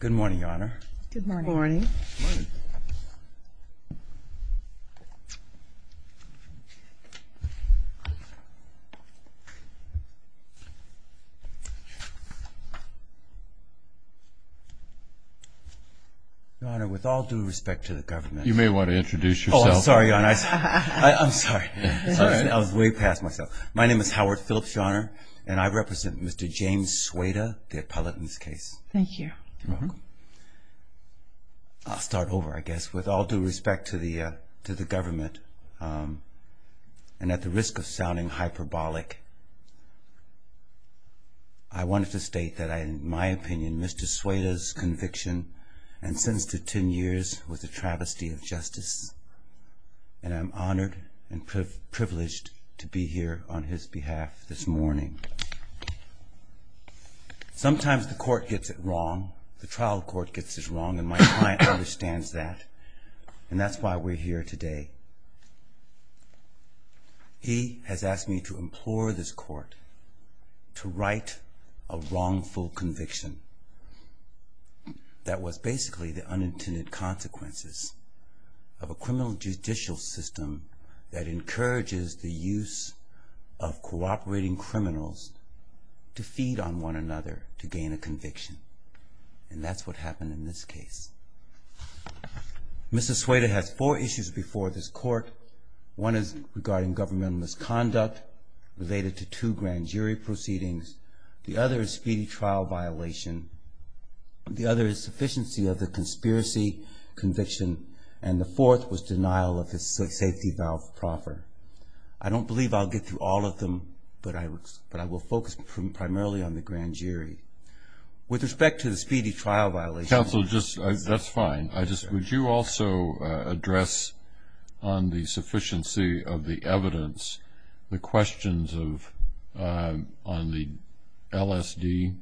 Good morning, Your Honor. Good morning. Good morning. Your Honor, with all due respect to the government... You may want to introduce yourself. Oh, I'm sorry, Your Honor. I'm sorry. I was way past myself. My name is Howard Phillips, Your Honor, and I represent Mr. James Schweda, the appellate in this case. Thank you. You're welcome. I'll start over, I guess. With all due respect to the government, and at the risk of sounding hyperbolic, I wanted to state that in my opinion Mr. Schweda's conviction and sentence to 10 years was a travesty of justice, and I'm honored and privileged to be here on his behalf this morning. Sometimes the court gets it wrong, the trial court gets it wrong, and my client understands that, and that's why we're here today. He has asked me to implore this court to write a wrongful conviction that was basically the unintended consequences of a criminal judicial system that encourages the use of cooperating criminals to feed on one another to gain a conviction, and that's what happened in this case. Mr. Schweda has four issues before this court. One is regarding governmental misconduct related to two grand jury proceedings. The other is speedy trial violation. The other is sufficiency of the conspiracy conviction, and the fourth was denial of the safety valve proffer. I don't believe I'll get through all of them, but I will focus primarily on the grand jury. With respect to the speedy trial violation- Counsel, that's fine. Would you also address on the sufficiency of the evidence the questions on the LSD,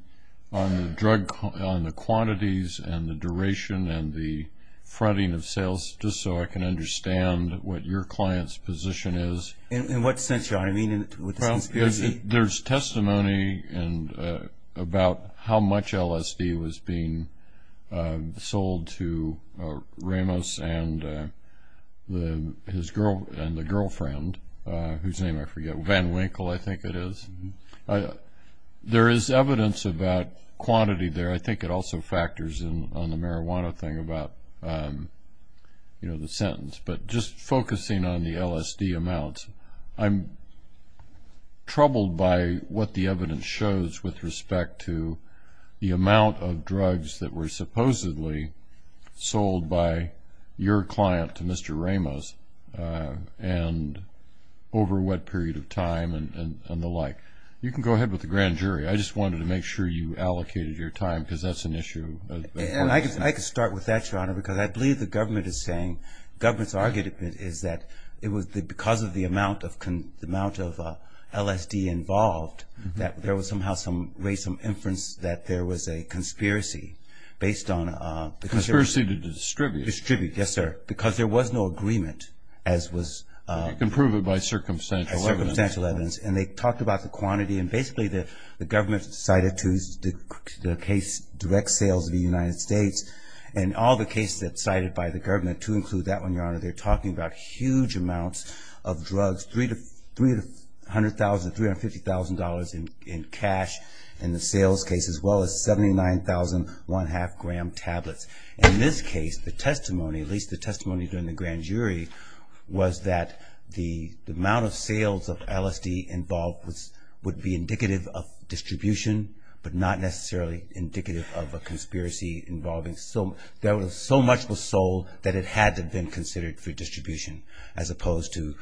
on the quantities and the duration and the fronting of sales, just so I can understand what your client's position is? In what sense, Your Honor? Well, there's testimony about how much LSD was being sold to Ramos and the girlfriend, whose name I forget, Van Winkle, I think it is. There is evidence about quantity there. I think it also factors in on the marijuana thing about the sentence. But just focusing on the LSD amounts, I'm troubled by what the evidence shows with respect to the amount of drugs that were supposedly sold by your client to Mr. Ramos over what period of time and the like. You can go ahead with the grand jury. I just wanted to make sure you allocated your time because that's an issue. I can start with that, Your Honor, because I believe the government is saying, government's argument is that it was because of the amount of LSD involved that there was somehow some, raised some inference that there was a conspiracy based on- Conspiracy to distribute. Distribute, yes, sir. Because there was no agreement as was- You can prove it by circumstantial evidence. Circumstantial evidence. And they talked about the quantity and basically the government cited to the case, direct sales of the United States and all the cases that's cited by the government to include that one, Your Honor, they're talking about huge amounts of drugs, $300,000 to $350,000 in cash in the sales case as well as 79,000 one half gram tablets. In this case, the testimony, at least the testimony during the grand jury, was that the amount of sales of LSD involved would be indicative of distribution but not necessarily indicative of a conspiracy involving so- There was so much was sold that it had to have been considered for distribution as opposed to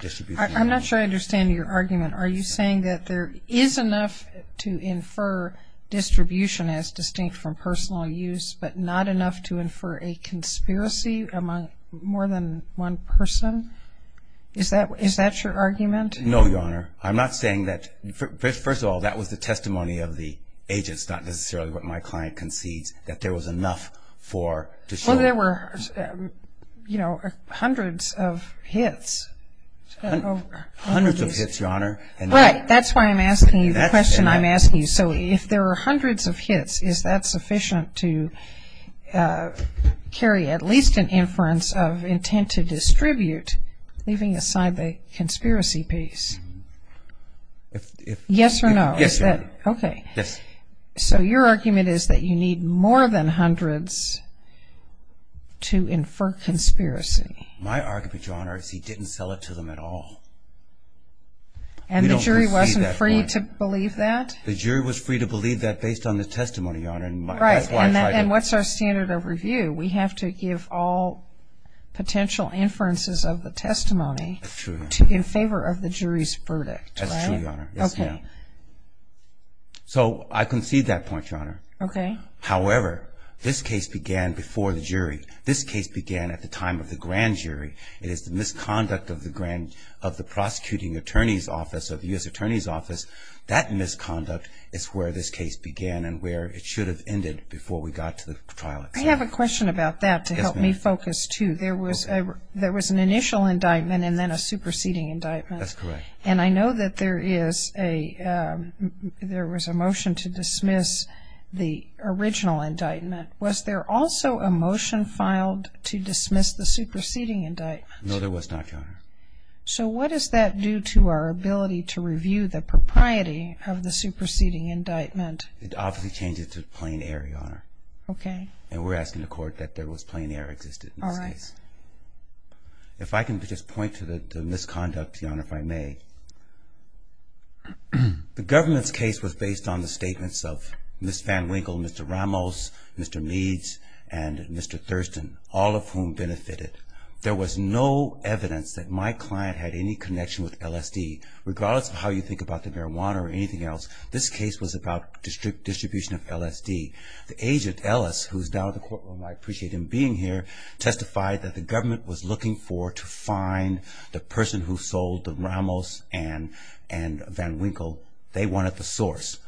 distribution- I'm not sure I understand your argument. Are you saying that there is enough to infer distribution as distinct from personal use but not enough to infer a conspiracy among more than one person? Is that your argument? No, Your Honor. I'm not saying that. First of all, that was the testimony of the agents, not necessarily what my client concedes that there was enough for to show- Well, there were, you know, hundreds of hits. Hundreds of hits, Your Honor. Right. That's why I'm asking you the question I'm asking you. So if there were hundreds of hits, is that sufficient to carry at least an inference of intent to distribute, leaving aside the conspiracy piece? Yes or no? Yes, Your Honor. Okay. Yes. So your argument is that you need more than hundreds to infer conspiracy. My argument, Your Honor, is he didn't sell it to them at all. And the jury wasn't free to believe that? The jury was free to believe that based on the testimony, Your Honor. Right. And what's our standard of review? We have to give all potential inferences of the testimony in favor of the jury's verdict. That's true, Your Honor. Yes, ma'am. Okay. So I concede that point, Your Honor. Okay. However, this case began before the jury. This case began at the time of the grand jury. It is the misconduct of the prosecuting attorney's office or the U.S. attorney's office. That misconduct is where this case began and where it should have ended before we got to the trial itself. I have a question about that to help me focus, too. There was an initial indictment and then a superseding indictment. That's correct. And I know that there was a motion to dismiss the original indictment. Was there also a motion filed to dismiss the superseding indictment? No, there was not, Your Honor. So what does that do to our ability to review the propriety of the superseding indictment? It obviously changes to plain error, Your Honor. Okay. And we're asking the court that there was plain error existed in this case. All right. If I can just point to the misconduct, Your Honor, if I may. The government's case was based on the statements of Ms. Van Winkle, Mr. Ramos, Mr. Meads, and Mr. Thurston, all of whom benefited. There was no evidence that my client had any connection with LSD, regardless of how you think about the marijuana or anything else. This case was about distribution of LSD. The agent, Ellis, who is now in the courtroom, I appreciate him being here, testified that the government was looking for to find the person who sold the Ramos and Van Winkle. They wanted the source.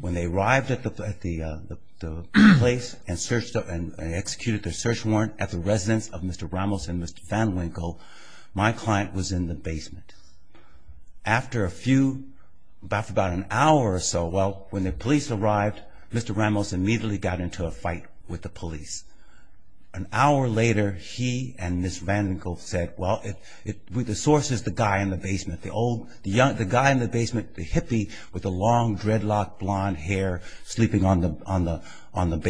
When they arrived at the place and executed their search warrant at the residence of Mr. Ramos and Mr. Van Winkle, my client was in the basement. After about an hour or so, well, when the police arrived, Mr. Ramos immediately got into a fight with the police. An hour later, he and Ms. Van Winkle said, well, the source is the guy in the basement, the guy in the basement, the hippie with the long dreadlocked blonde hair sleeping on the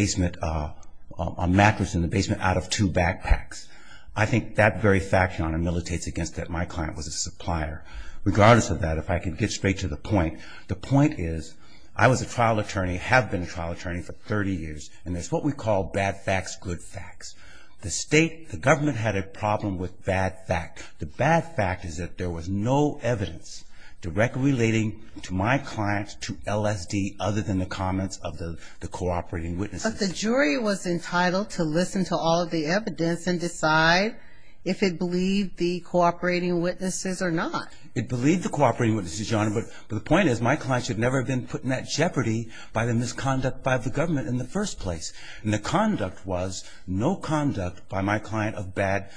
mattress in the basement out of two backpacks. I think that very fact, Your Honor, militates against that my client was a supplier. Regardless of that, if I can get straight to the point, the point is, I was a trial attorney, have been a trial attorney for 30 years, and it's what we call bad facts, good facts. The state, the government had a problem with bad facts. The bad fact is that there was no evidence directly relating to my client to LSD other than the comments of the cooperating witnesses. But the jury was entitled to listen to all of the evidence and decide if it believed the cooperating witnesses or not. It believed the cooperating witnesses, Your Honor, but the point is my client should never have been put in that jeopardy by the misconduct by the government in the first place. And the conduct was no conduct by my client of bad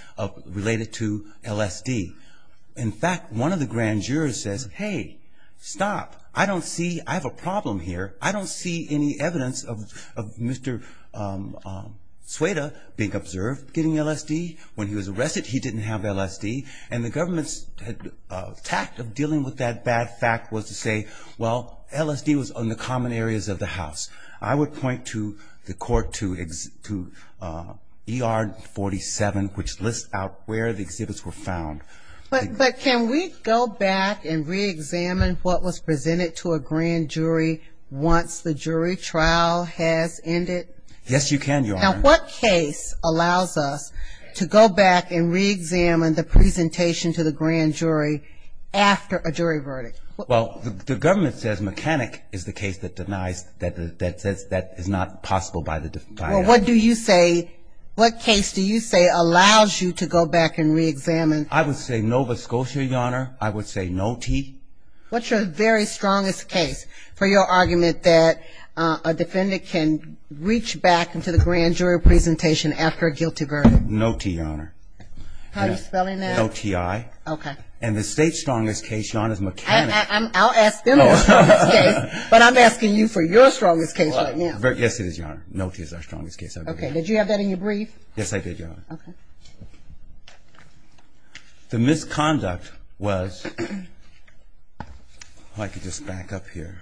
related to LSD. In fact, one of the grand jurors says, hey, stop. I don't see, I have a problem here. I don't see any evidence of Mr. Sueda being observed getting LSD. When he was arrested, he didn't have LSD. And the government's tact of dealing with that bad fact was to say, well, LSD was on the common areas of the house. I would point to the court to ER 47, which lists out where the exhibits were found. But can we go back and reexamine what was presented to a grand jury once the jury trial has ended? Yes, you can, Your Honor. Now, what case allows us to go back and reexamine the presentation to the grand jury after a jury verdict? Well, the government says mechanic is the case that denies, that is not possible by the client. Well, what do you say, what case do you say allows you to go back and reexamine? I would say Nova Scotia, Your Honor. I would say no T. What's your very strongest case for your argument that a defendant can reach back into the grand jury presentation after a guilty verdict? No T, Your Honor. How do you spell it now? No T-I. Okay. And the state's strongest case, Your Honor, is mechanic. I'll ask them the strongest case, but I'm asking you for your strongest case right now. Yes, it is, Your Honor. No T is our strongest case. Okay. Did you have that in your brief? Yes, I did, Your Honor. Okay. The misconduct was, if I could just back up here.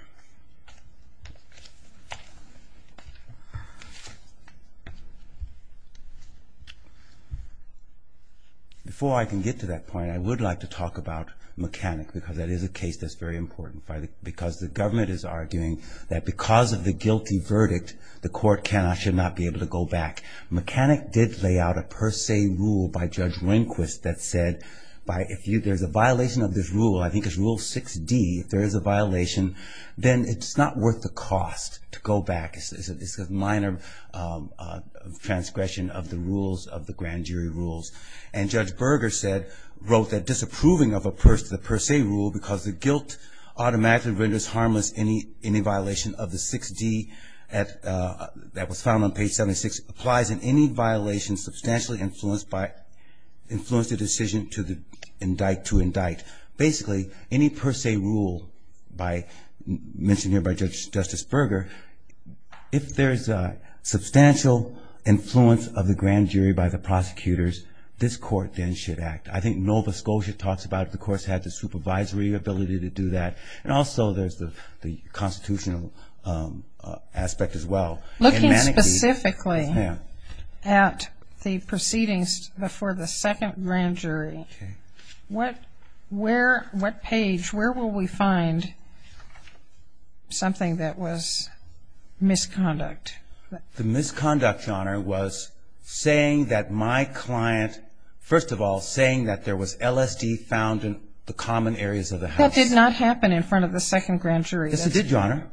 Before I can get to that point, I would like to talk about mechanic because that is a case that's very important because the government is arguing that because of the guilty verdict, the court cannot, should not be able to go back. Mechanic did lay out a per se rule by Judge Rehnquist that said if there's a violation of this rule, I think it's rule 6D, if there is a violation, then it's not worth the cost to go back. It's a minor transgression of the rules, of the grand jury rules. And Judge Berger said, wrote that disapproving of a per se rule because the guilt automatically renders harmless any violation of the 6D that was found on page 76 applies in any violation substantially influenced by, influenced the decision to indict. Basically, any per se rule by, mentioned here by Justice Berger, if there's substantial influence of the grand jury by the prosecutors, this court then should act. I think Nova Scotia talks about the court's had the supervisory ability to do that. And also there's the constitutional aspect as well. Looking specifically at the proceedings before the second grand jury, what page, where will we find something that was misconduct? The misconduct, Your Honor, was saying that my client, first of all, saying that there was LSD found in the common areas of the house. That did not happen in front of the second grand jury. Yes, it did, Your Honor.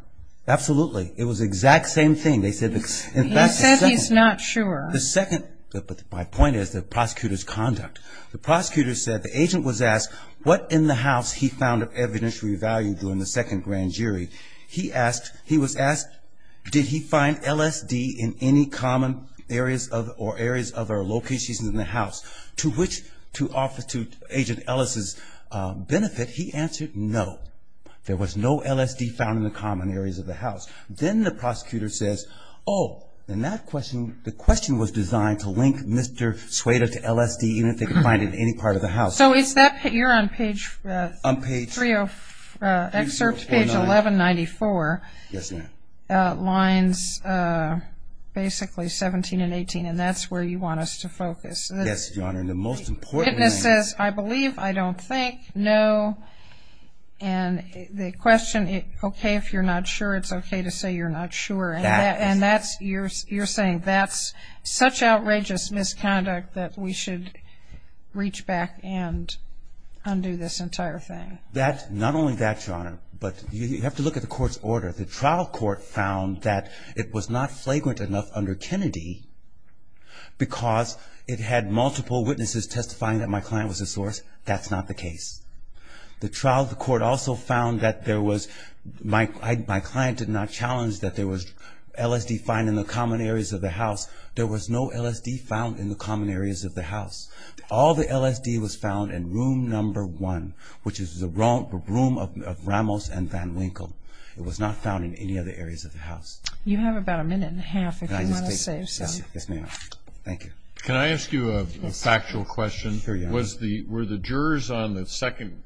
Absolutely. It was the exact same thing. He says he's not sure. The second, but my point is the prosecutor's conduct. The prosecutor said the agent was asked what in the house he found of evidentiary value during the second grand jury. He asked, he was asked, did he find LSD in any common areas of, or areas of or locations in the house to which, to offer to Agent Ellis' benefit. He answered no. There was no LSD found in the common areas of the house. Then the prosecutor says, oh, and that question, the question was designed to link Mr. Sueda to LSD even if they could find it in any part of the house. So is that, you're on page, excerpt page 1194. Yes, ma'am. Lines basically 17 and 18, and that's where you want us to focus. Yes, Your Honor, and the most important thing. Witness says, I believe, I don't think, no. And the question, okay, if you're not sure, it's okay to say you're not sure. And that's, you're saying that's such outrageous misconduct that we should reach back and undo this entire thing. That, not only that, Your Honor, but you have to look at the court's order. The trial court found that it was not flagrant enough under Kennedy because it had multiple witnesses testifying that my client was a source. That's not the case. The trial court also found that there was, my client did not challenge that there was LSD found in the common areas of the house. There was no LSD found in the common areas of the house. All the LSD was found in room number one, which is the room of Ramos and Van Winkle. You have about a minute and a half if you want to save some. Yes, ma'am. Thank you. Can I ask you a factual question? Sure, Your Honor. Were the jurors on the second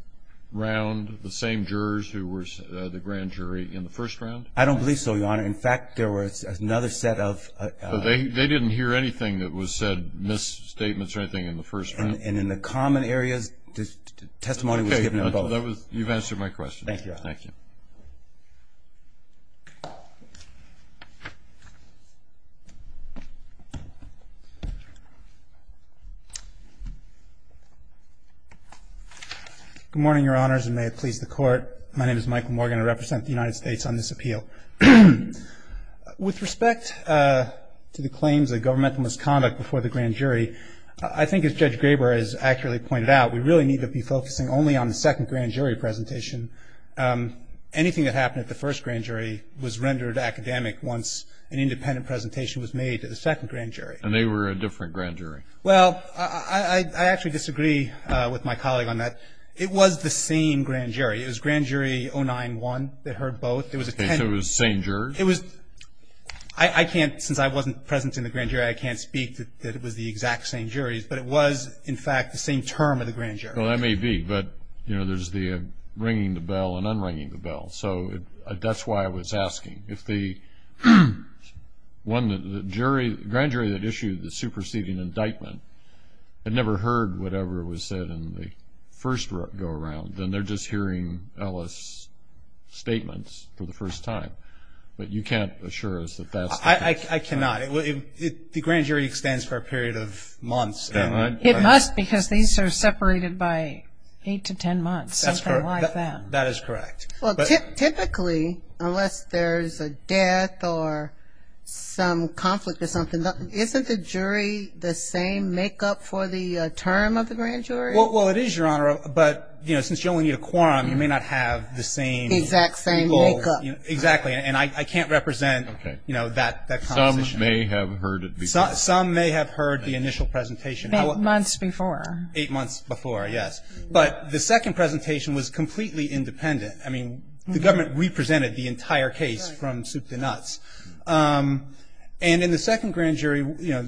round the same jurors who were the grand jury in the first round? I don't believe so, Your Honor. In fact, there was another set of... They didn't hear anything that was said, misstatements or anything in the first round? And in the common areas, testimony was given in both. Okay. You've answered my question. Thank you, Your Honor. Thank you. Good morning, Your Honors, and may it please the Court. My name is Michael Morgan. I represent the United States on this appeal. With respect to the claims of governmental misconduct before the grand jury, I think as Judge Graber has accurately pointed out, we really need to be focusing only on the second grand jury presentation. Anything that happened at the first grand jury was rendered academic once an independent presentation was made to the second grand jury. And they were a different grand jury? Well, I actually disagree with my colleague on that. It was the same grand jury. It was grand jury 091 that heard both. So it was the same jury? It was... I can't... But it was, in fact, the same term of the grand jury. Well, that may be. But, you know, there's the ringing the bell and unringing the bell. So that's why I was asking. If the grand jury that issued the superseding indictment had never heard whatever was said in the first go-around, then they're just hearing Ellis' statements for the first time. But you can't assure us that that's... I cannot. The grand jury extends for a period of months. It must because these are separated by 8 to 10 months, something like that. That is correct. Well, typically, unless there's a death or some conflict or something, isn't the jury the same makeup for the term of the grand jury? Well, it is, Your Honor. But, you know, since you only need a quorum, you may not have the same... Exact same makeup. Exactly. And I can't represent, you know, that composition. Some may have heard it before. Some may have heard the initial presentation. Eight months before. Eight months before, yes. But the second presentation was completely independent. I mean, the government represented the entire case from soup to nuts. And in the second grand jury, you know,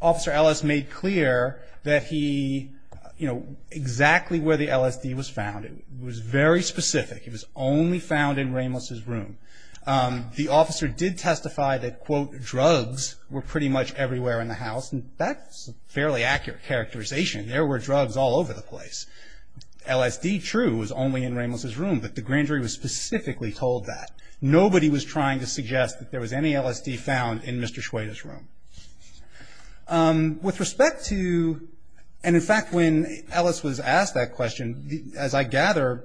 Officer Ellis made clear that he, you know, exactly where the LSD was found. It was very specific. It was only found in Ramos' room. The officer did testify that, quote, drugs were pretty much everywhere in the house. And that's a fairly accurate characterization. There were drugs all over the place. LSD, true, was only in Ramos' room. But the grand jury was specifically told that. Nobody was trying to suggest that there was any LSD found in Mr. Schweda's room. With respect to, and in fact, when Ellis was asked that question, as I gather,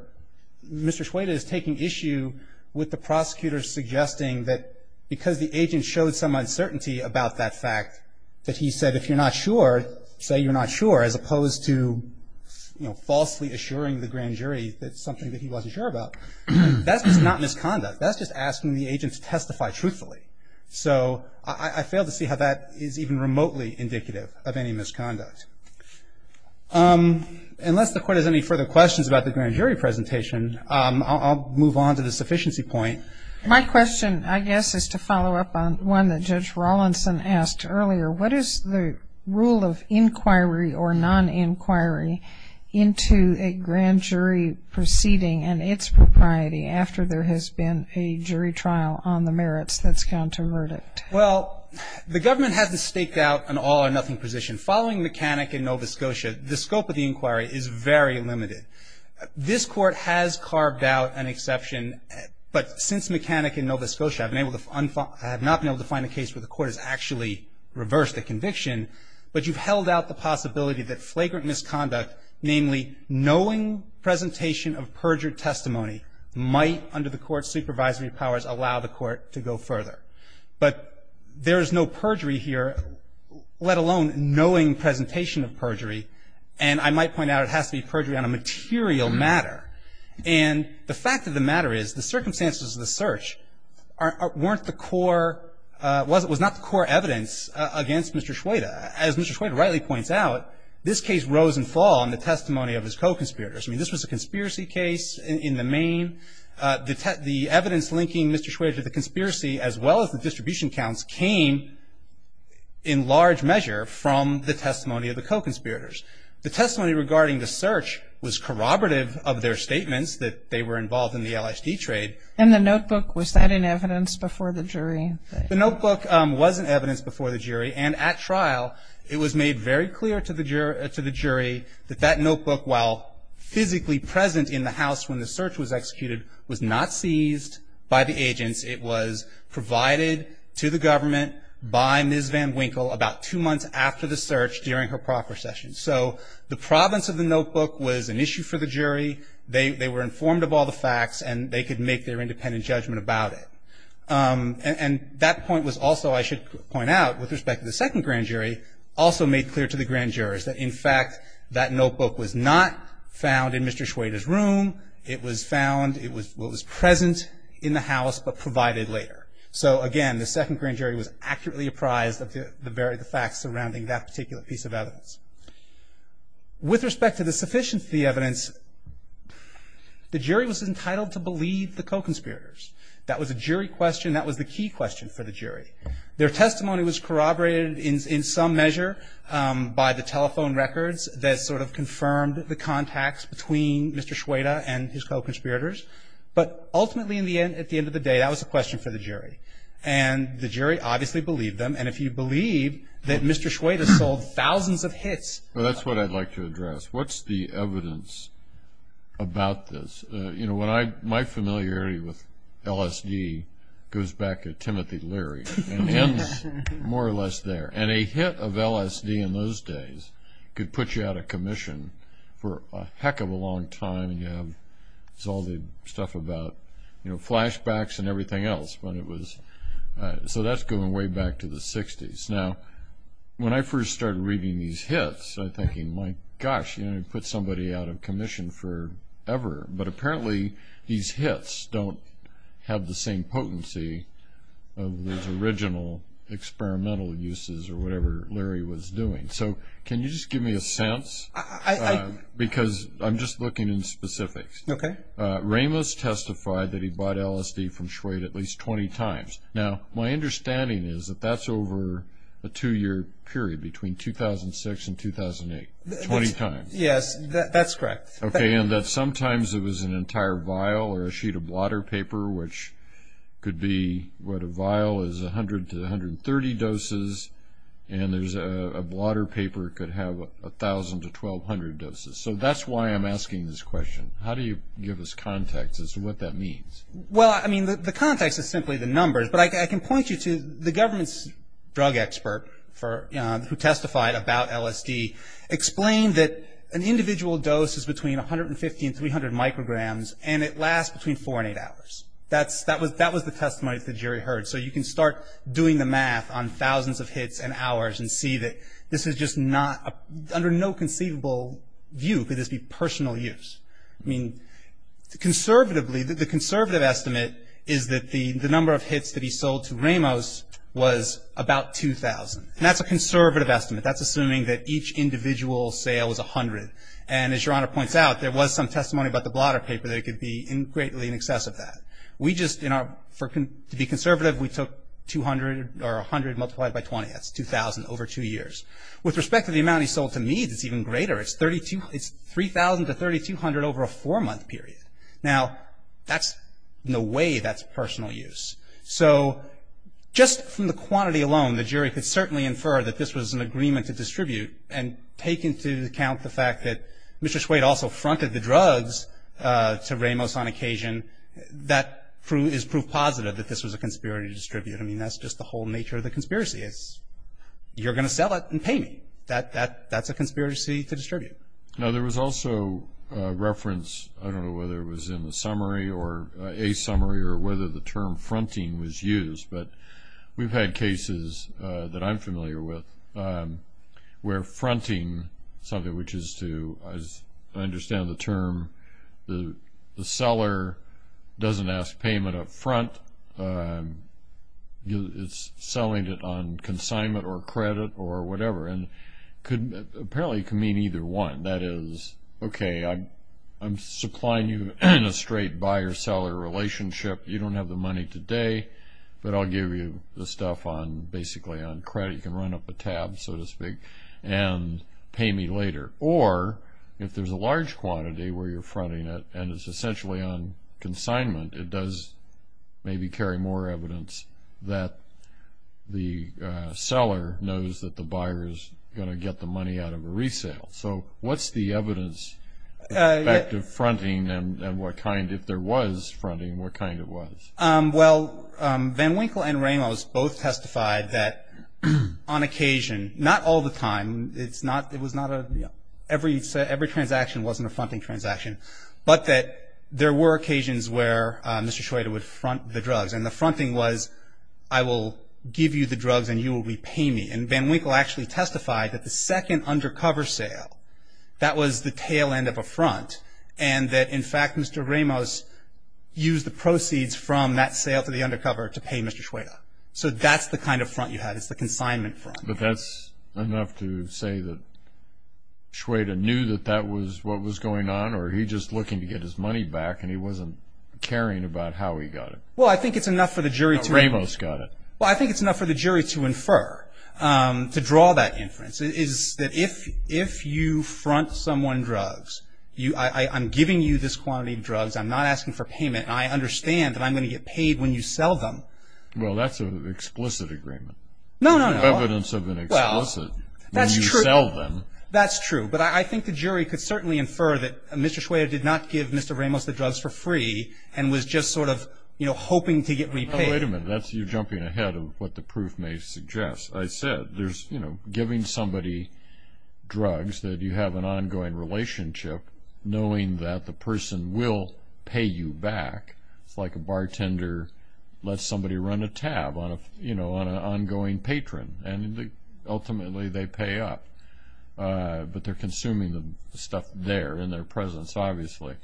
Mr. Schweda is taking issue with the prosecutor suggesting that because the agent showed some uncertainty about that fact, that he said, if you're not sure, say you're not sure, as opposed to falsely assuring the grand jury that it's something that he wasn't sure about. That's just not misconduct. That's just asking the agent to testify truthfully. So I fail to see how that is even remotely indicative of any misconduct. Unless the Court has any further questions about the grand jury presentation, I'll move on to the sufficiency point. My question, I guess, is to follow up on one that Judge Rawlinson asked earlier. What is the rule of inquiry or non-inquiry into a grand jury proceeding and its propriety after there has been a jury trial on the merits that's gone to verdict? Well, the government has to stake out an all or nothing position. Following McCannick in Nova Scotia, the scope of the inquiry is very limited. This Court has carved out an exception, but since McCannick in Nova Scotia, I have not been able to find a case where the Court has actually reversed the conviction, but you've held out the possibility that flagrant misconduct, namely knowing presentation of perjured testimony, might under the Court's supervisory powers allow the Court to go further. But there is no perjury here, let alone knowing presentation of perjury, and I might point out it has to be perjury on a material matter. And the fact of the matter is the circumstances of the search weren't the core, was not the core evidence against Mr. Schweda. As Mr. Schweda rightly points out, this case rose and fell on the testimony of his co-conspirators. I mean, this was a conspiracy case in the main. The evidence linking Mr. Schweda to the conspiracy, as well as the distribution counts, came in large measure from the testimony of the co-conspirators. The testimony regarding the search was corroborative of their statements that they were involved in the LSD trade. And the notebook, was that an evidence before the jury? The notebook was an evidence before the jury, and at trial, it was made very clear to the jury that that notebook, while physically present in the house when the search was executed, was not seized by the agents. It was provided to the government by Ms. Van Winkle about two months after the search, during her proper session. So the province of the notebook was an issue for the jury. They were informed of all the facts, and they could make their independent judgment about it. And that point was also, I should point out, with respect to the second grand jury, also made clear to the grand jurors that, in fact, that notebook was not found in Mr. Schweda's room. It was found, it was present in the house, but provided later. So, again, the second grand jury was accurately apprised of the very facts surrounding that particular piece of evidence. With respect to the sufficiency evidence, the jury was entitled to believe the co-conspirators. That was a jury question. That was the key question for the jury. Their testimony was corroborated in some measure by the telephone records that sort of confirmed the contacts between Mr. Schweda and his co-conspirators. But ultimately, at the end of the day, that was a question for the jury. And the jury obviously believed them. And if you believe that Mr. Schweda sold thousands of hits. Well, that's what I'd like to address. What's the evidence about this? My familiarity with LSD goes back to Timothy Leary. It ends more or less there. And a hit of LSD in those days could put you out of commission for a heck of a long time. It's all the stuff about flashbacks and everything else. So that's going way back to the 60s. Now, when I first started reading these hits, I'm thinking, my gosh, you're going to put somebody out of commission forever. But apparently these hits don't have the same potency of those original experimental uses or whatever Leary was doing. So can you just give me a sense? Because I'm just looking in specifics. Okay. Ramos testified that he bought LSD from Schweda at least 20 times. Now, my understanding is that that's over a two-year period between 2006 and 2008, 20 times. Yes, that's correct. Okay, and that sometimes it was an entire vial or a sheet of blotter paper, which could be what a vial is 100 to 130 doses, and there's a blotter paper that could have 1,000 to 1,200 doses. So that's why I'm asking this question. How do you give us context as to what that means? Well, I mean, the context is simply the numbers. But I can point you to the government's drug expert who testified about LSD, explained that an individual dose is between 150 and 300 micrograms, and it lasts between four and eight hours. That was the testimony that the jury heard. So you can start doing the math on thousands of hits and hours and see that this is just under no conceivable view could this be personal use. I mean, conservatively, the conservative estimate is that the number of hits that he sold to Ramos was about 2,000. And that's a conservative estimate. That's assuming that each individual sale was 100. And as Your Honor points out, there was some testimony about the blotter paper that it could be greatly in excess of that. We just, you know, to be conservative, we took 200 or 100 multiplied by 20. That's 2,000 over two years. With respect to the amount he sold to Meade, it's even greater. It's 3,000 to 3,200 over a four-month period. Now, that's no way that's personal use. So just from the quantity alone, the jury could certainly infer that this was an agreement to distribute and take into account the fact that Mr. Swade also fronted the drugs to Ramos on occasion. That is proof positive that this was a conspiracy to distribute. I mean, that's just the whole nature of the conspiracy is you're going to sell it and pay me. That's a conspiracy to distribute. Now, there was also reference, I don't know whether it was in the summary or a summary or whether the term fronting was used, but we've had cases that I'm familiar with where fronting, something which is to understand the term, the seller doesn't ask payment up front. It's selling it on consignment or credit or whatever, and apparently it can mean either one. That is, okay, I'm supplying you a straight buyer-seller relationship. You don't have the money today, but I'll give you the stuff basically on credit. You can run up a tab, so to speak, and pay me later. Or if there's a large quantity where you're fronting it and it's essentially on consignment, it does maybe carry more evidence that the seller knows that the buyer is going to get the money out of a resale. So what's the evidence of fronting and what kind, if there was fronting, what kind it was? Well, Van Winkle and Ramos both testified that on occasion, not all the time, it was not a, every transaction wasn't a fronting transaction, but that there were occasions where Mr. Schweda would front the drugs, and the fronting was I will give you the drugs and you will repay me. And Van Winkle actually testified that the second undercover sale, that was the tail end of a front, and that in fact Mr. Ramos used the proceeds from that sale to the undercover to pay Mr. Schweda. So that's the kind of front you had. It's the consignment front. But that's enough to say that Schweda knew that that was what was going on, or he just looking to get his money back and he wasn't caring about how he got it. Well, I think it's enough for the jury to infer, to draw that inference, is that if you front someone drugs, I'm giving you this quantity of drugs, I'm not asking for payment, and I understand that I'm going to get paid when you sell them. Well, that's an explicit agreement. No, no, no. Evidence of an explicit. Well, that's true. When you sell them. That's true. But I think the jury could certainly infer that Mr. Schweda did not give Mr. Ramos the drugs for free and was just sort of, you know, hoping to get repaid. Wait a minute. You're jumping ahead of what the proof may suggest. I said there's, you know, giving somebody drugs that you have an ongoing relationship, knowing that the person will pay you back. It's like a bartender lets somebody run a tab on an ongoing patron, and ultimately they pay up. But they're consuming the stuff there in their presence, obviously.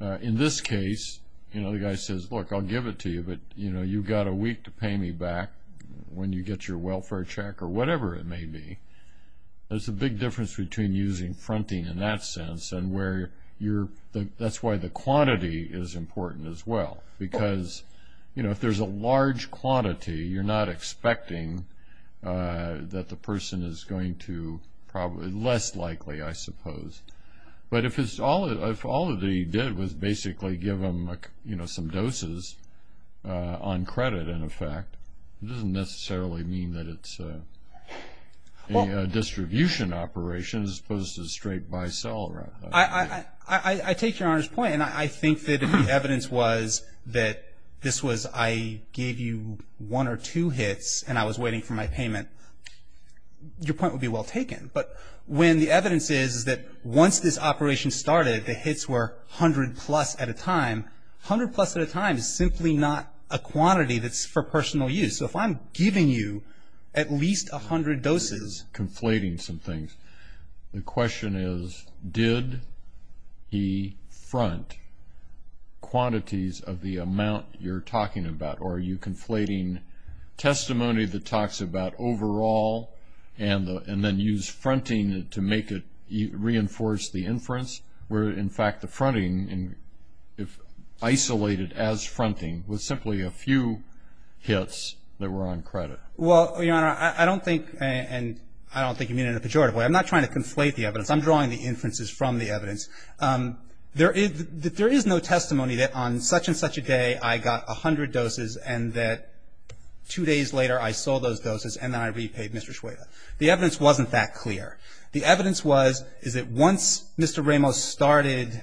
In this case, you know, the guy says, look, I'll give it to you, but, you know, you've got a week to pay me back when you get your welfare check or whatever it may be. There's a big difference between using fronting in that sense and where you're – that's why the quantity is important as well. Because, you know, if there's a large quantity, you're not expecting that the person is going to probably – less likely, I suppose. But if all that he did was basically give them, you know, some doses on credit, in effect, it doesn't necessarily mean that it's a distribution operation as opposed to a straight buy-sell. I take Your Honor's point, and I think that if the evidence was that this was – I gave you one or two hits and I was waiting for my payment, your point would be well taken. But when the evidence is that once this operation started, the hits were 100-plus at a time, 100-plus at a time is simply not a quantity that's for personal use. So if I'm giving you at least 100 doses. Conflating some things. The question is, did he front quantities of the amount you're talking about? Or are you conflating testimony that talks about overall and then use fronting to make it reinforce the inference? Were, in fact, the fronting isolated as fronting with simply a few hits that were on credit? Well, Your Honor, I don't think – and I don't think you mean it in a pejorative way. I'm not trying to conflate the evidence. I'm drawing the inferences from the evidence. There is no testimony that on such-and-such a day I got 100 doses and that two days later I sold those doses and then I repaid Mr. Schweda. The evidence wasn't that clear. The evidence was is that once Mr. Ramos started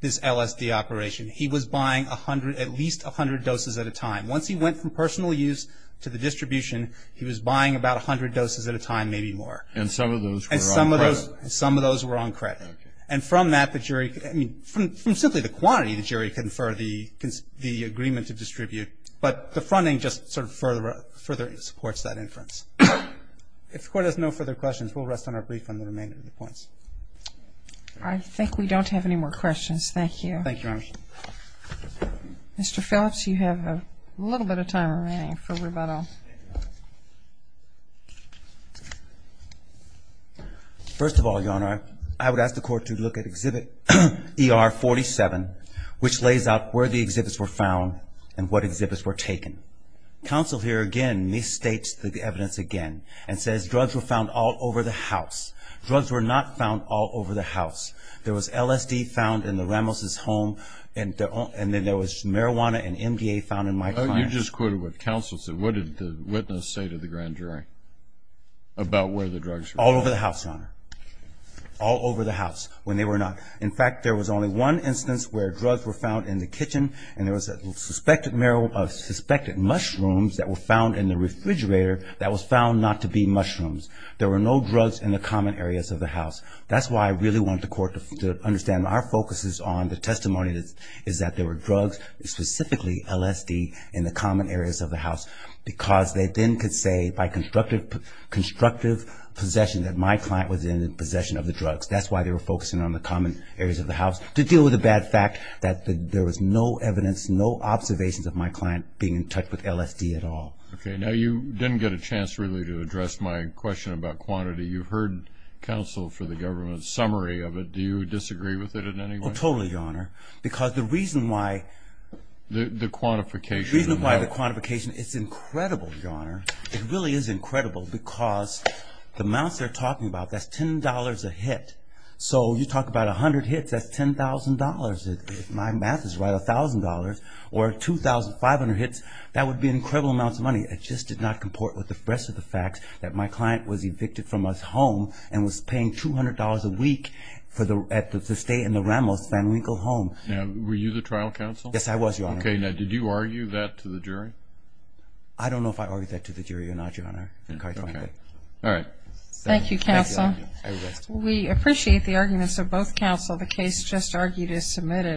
this LSD operation, he was buying at least 100 doses at a time. Once he went from personal use to the distribution, he was buying about 100 doses at a time, maybe more. And some of those were on credit. And some of those were on credit. And from that, the jury – I mean, from simply the quantity, the jury conferred the agreement to distribute. But the fronting just sort of further supports that inference. If the Court has no further questions, we'll rest on our brief on the remainder of the points. I think we don't have any more questions. Thank you. Thank you, Your Honor. Mr. Phillips, you have a little bit of time remaining for rebuttal. First of all, Your Honor, I would ask the Court to look at Exhibit ER-47, which lays out where the exhibits were found and what exhibits were taken. Counsel here, again, misstates the evidence again and says drugs were found all over the house. Drugs were not found all over the house. There was LSD found in the Ramos' home, and then there was marijuana and MDA found in my client's. You just quoted what counsel said. What did the witness say to the grand jury about where the drugs were found? All over the house, Your Honor. All over the house when they were not. In fact, there was only one instance where drugs were found in the kitchen and there was suspected mushrooms that were found in the refrigerator that was found not to be mushrooms. There were no drugs in the common areas of the house. That's why I really want the Court to understand our focus is on the testimony is that there were drugs, specifically LSD, in the common areas of the house because they then could say by constructive possession that my client was in possession of the drugs. That's why they were focusing on the common areas of the house. To deal with the bad fact that there was no evidence, no observations of my client being in touch with LSD at all. Okay, now you didn't get a chance really to address my question about quantity. You heard counsel for the government's summary of it. Do you disagree with it in any way? Oh, totally, Your Honor, because the reason why... The quantification. The reason why the quantification, it's incredible, Your Honor. It really is incredible because the amounts they're talking about, that's $10 a hit. So you talk about 100 hits, that's $10,000. If my math is right, $1,000 or 2,500 hits, that would be incredible amounts of money. It just did not comport with the rest of the facts that my client was evicted from his home and was paying $200 a week to stay in the Ramos-Van Winkle home. Were you the trial counsel? Yes, I was, Your Honor. Okay, now did you argue that to the jury? I don't know if I argued that to the jury or not, Your Honor. All right. Thank you, counsel. We appreciate the arguments of both counsel. The case just argued is submitted.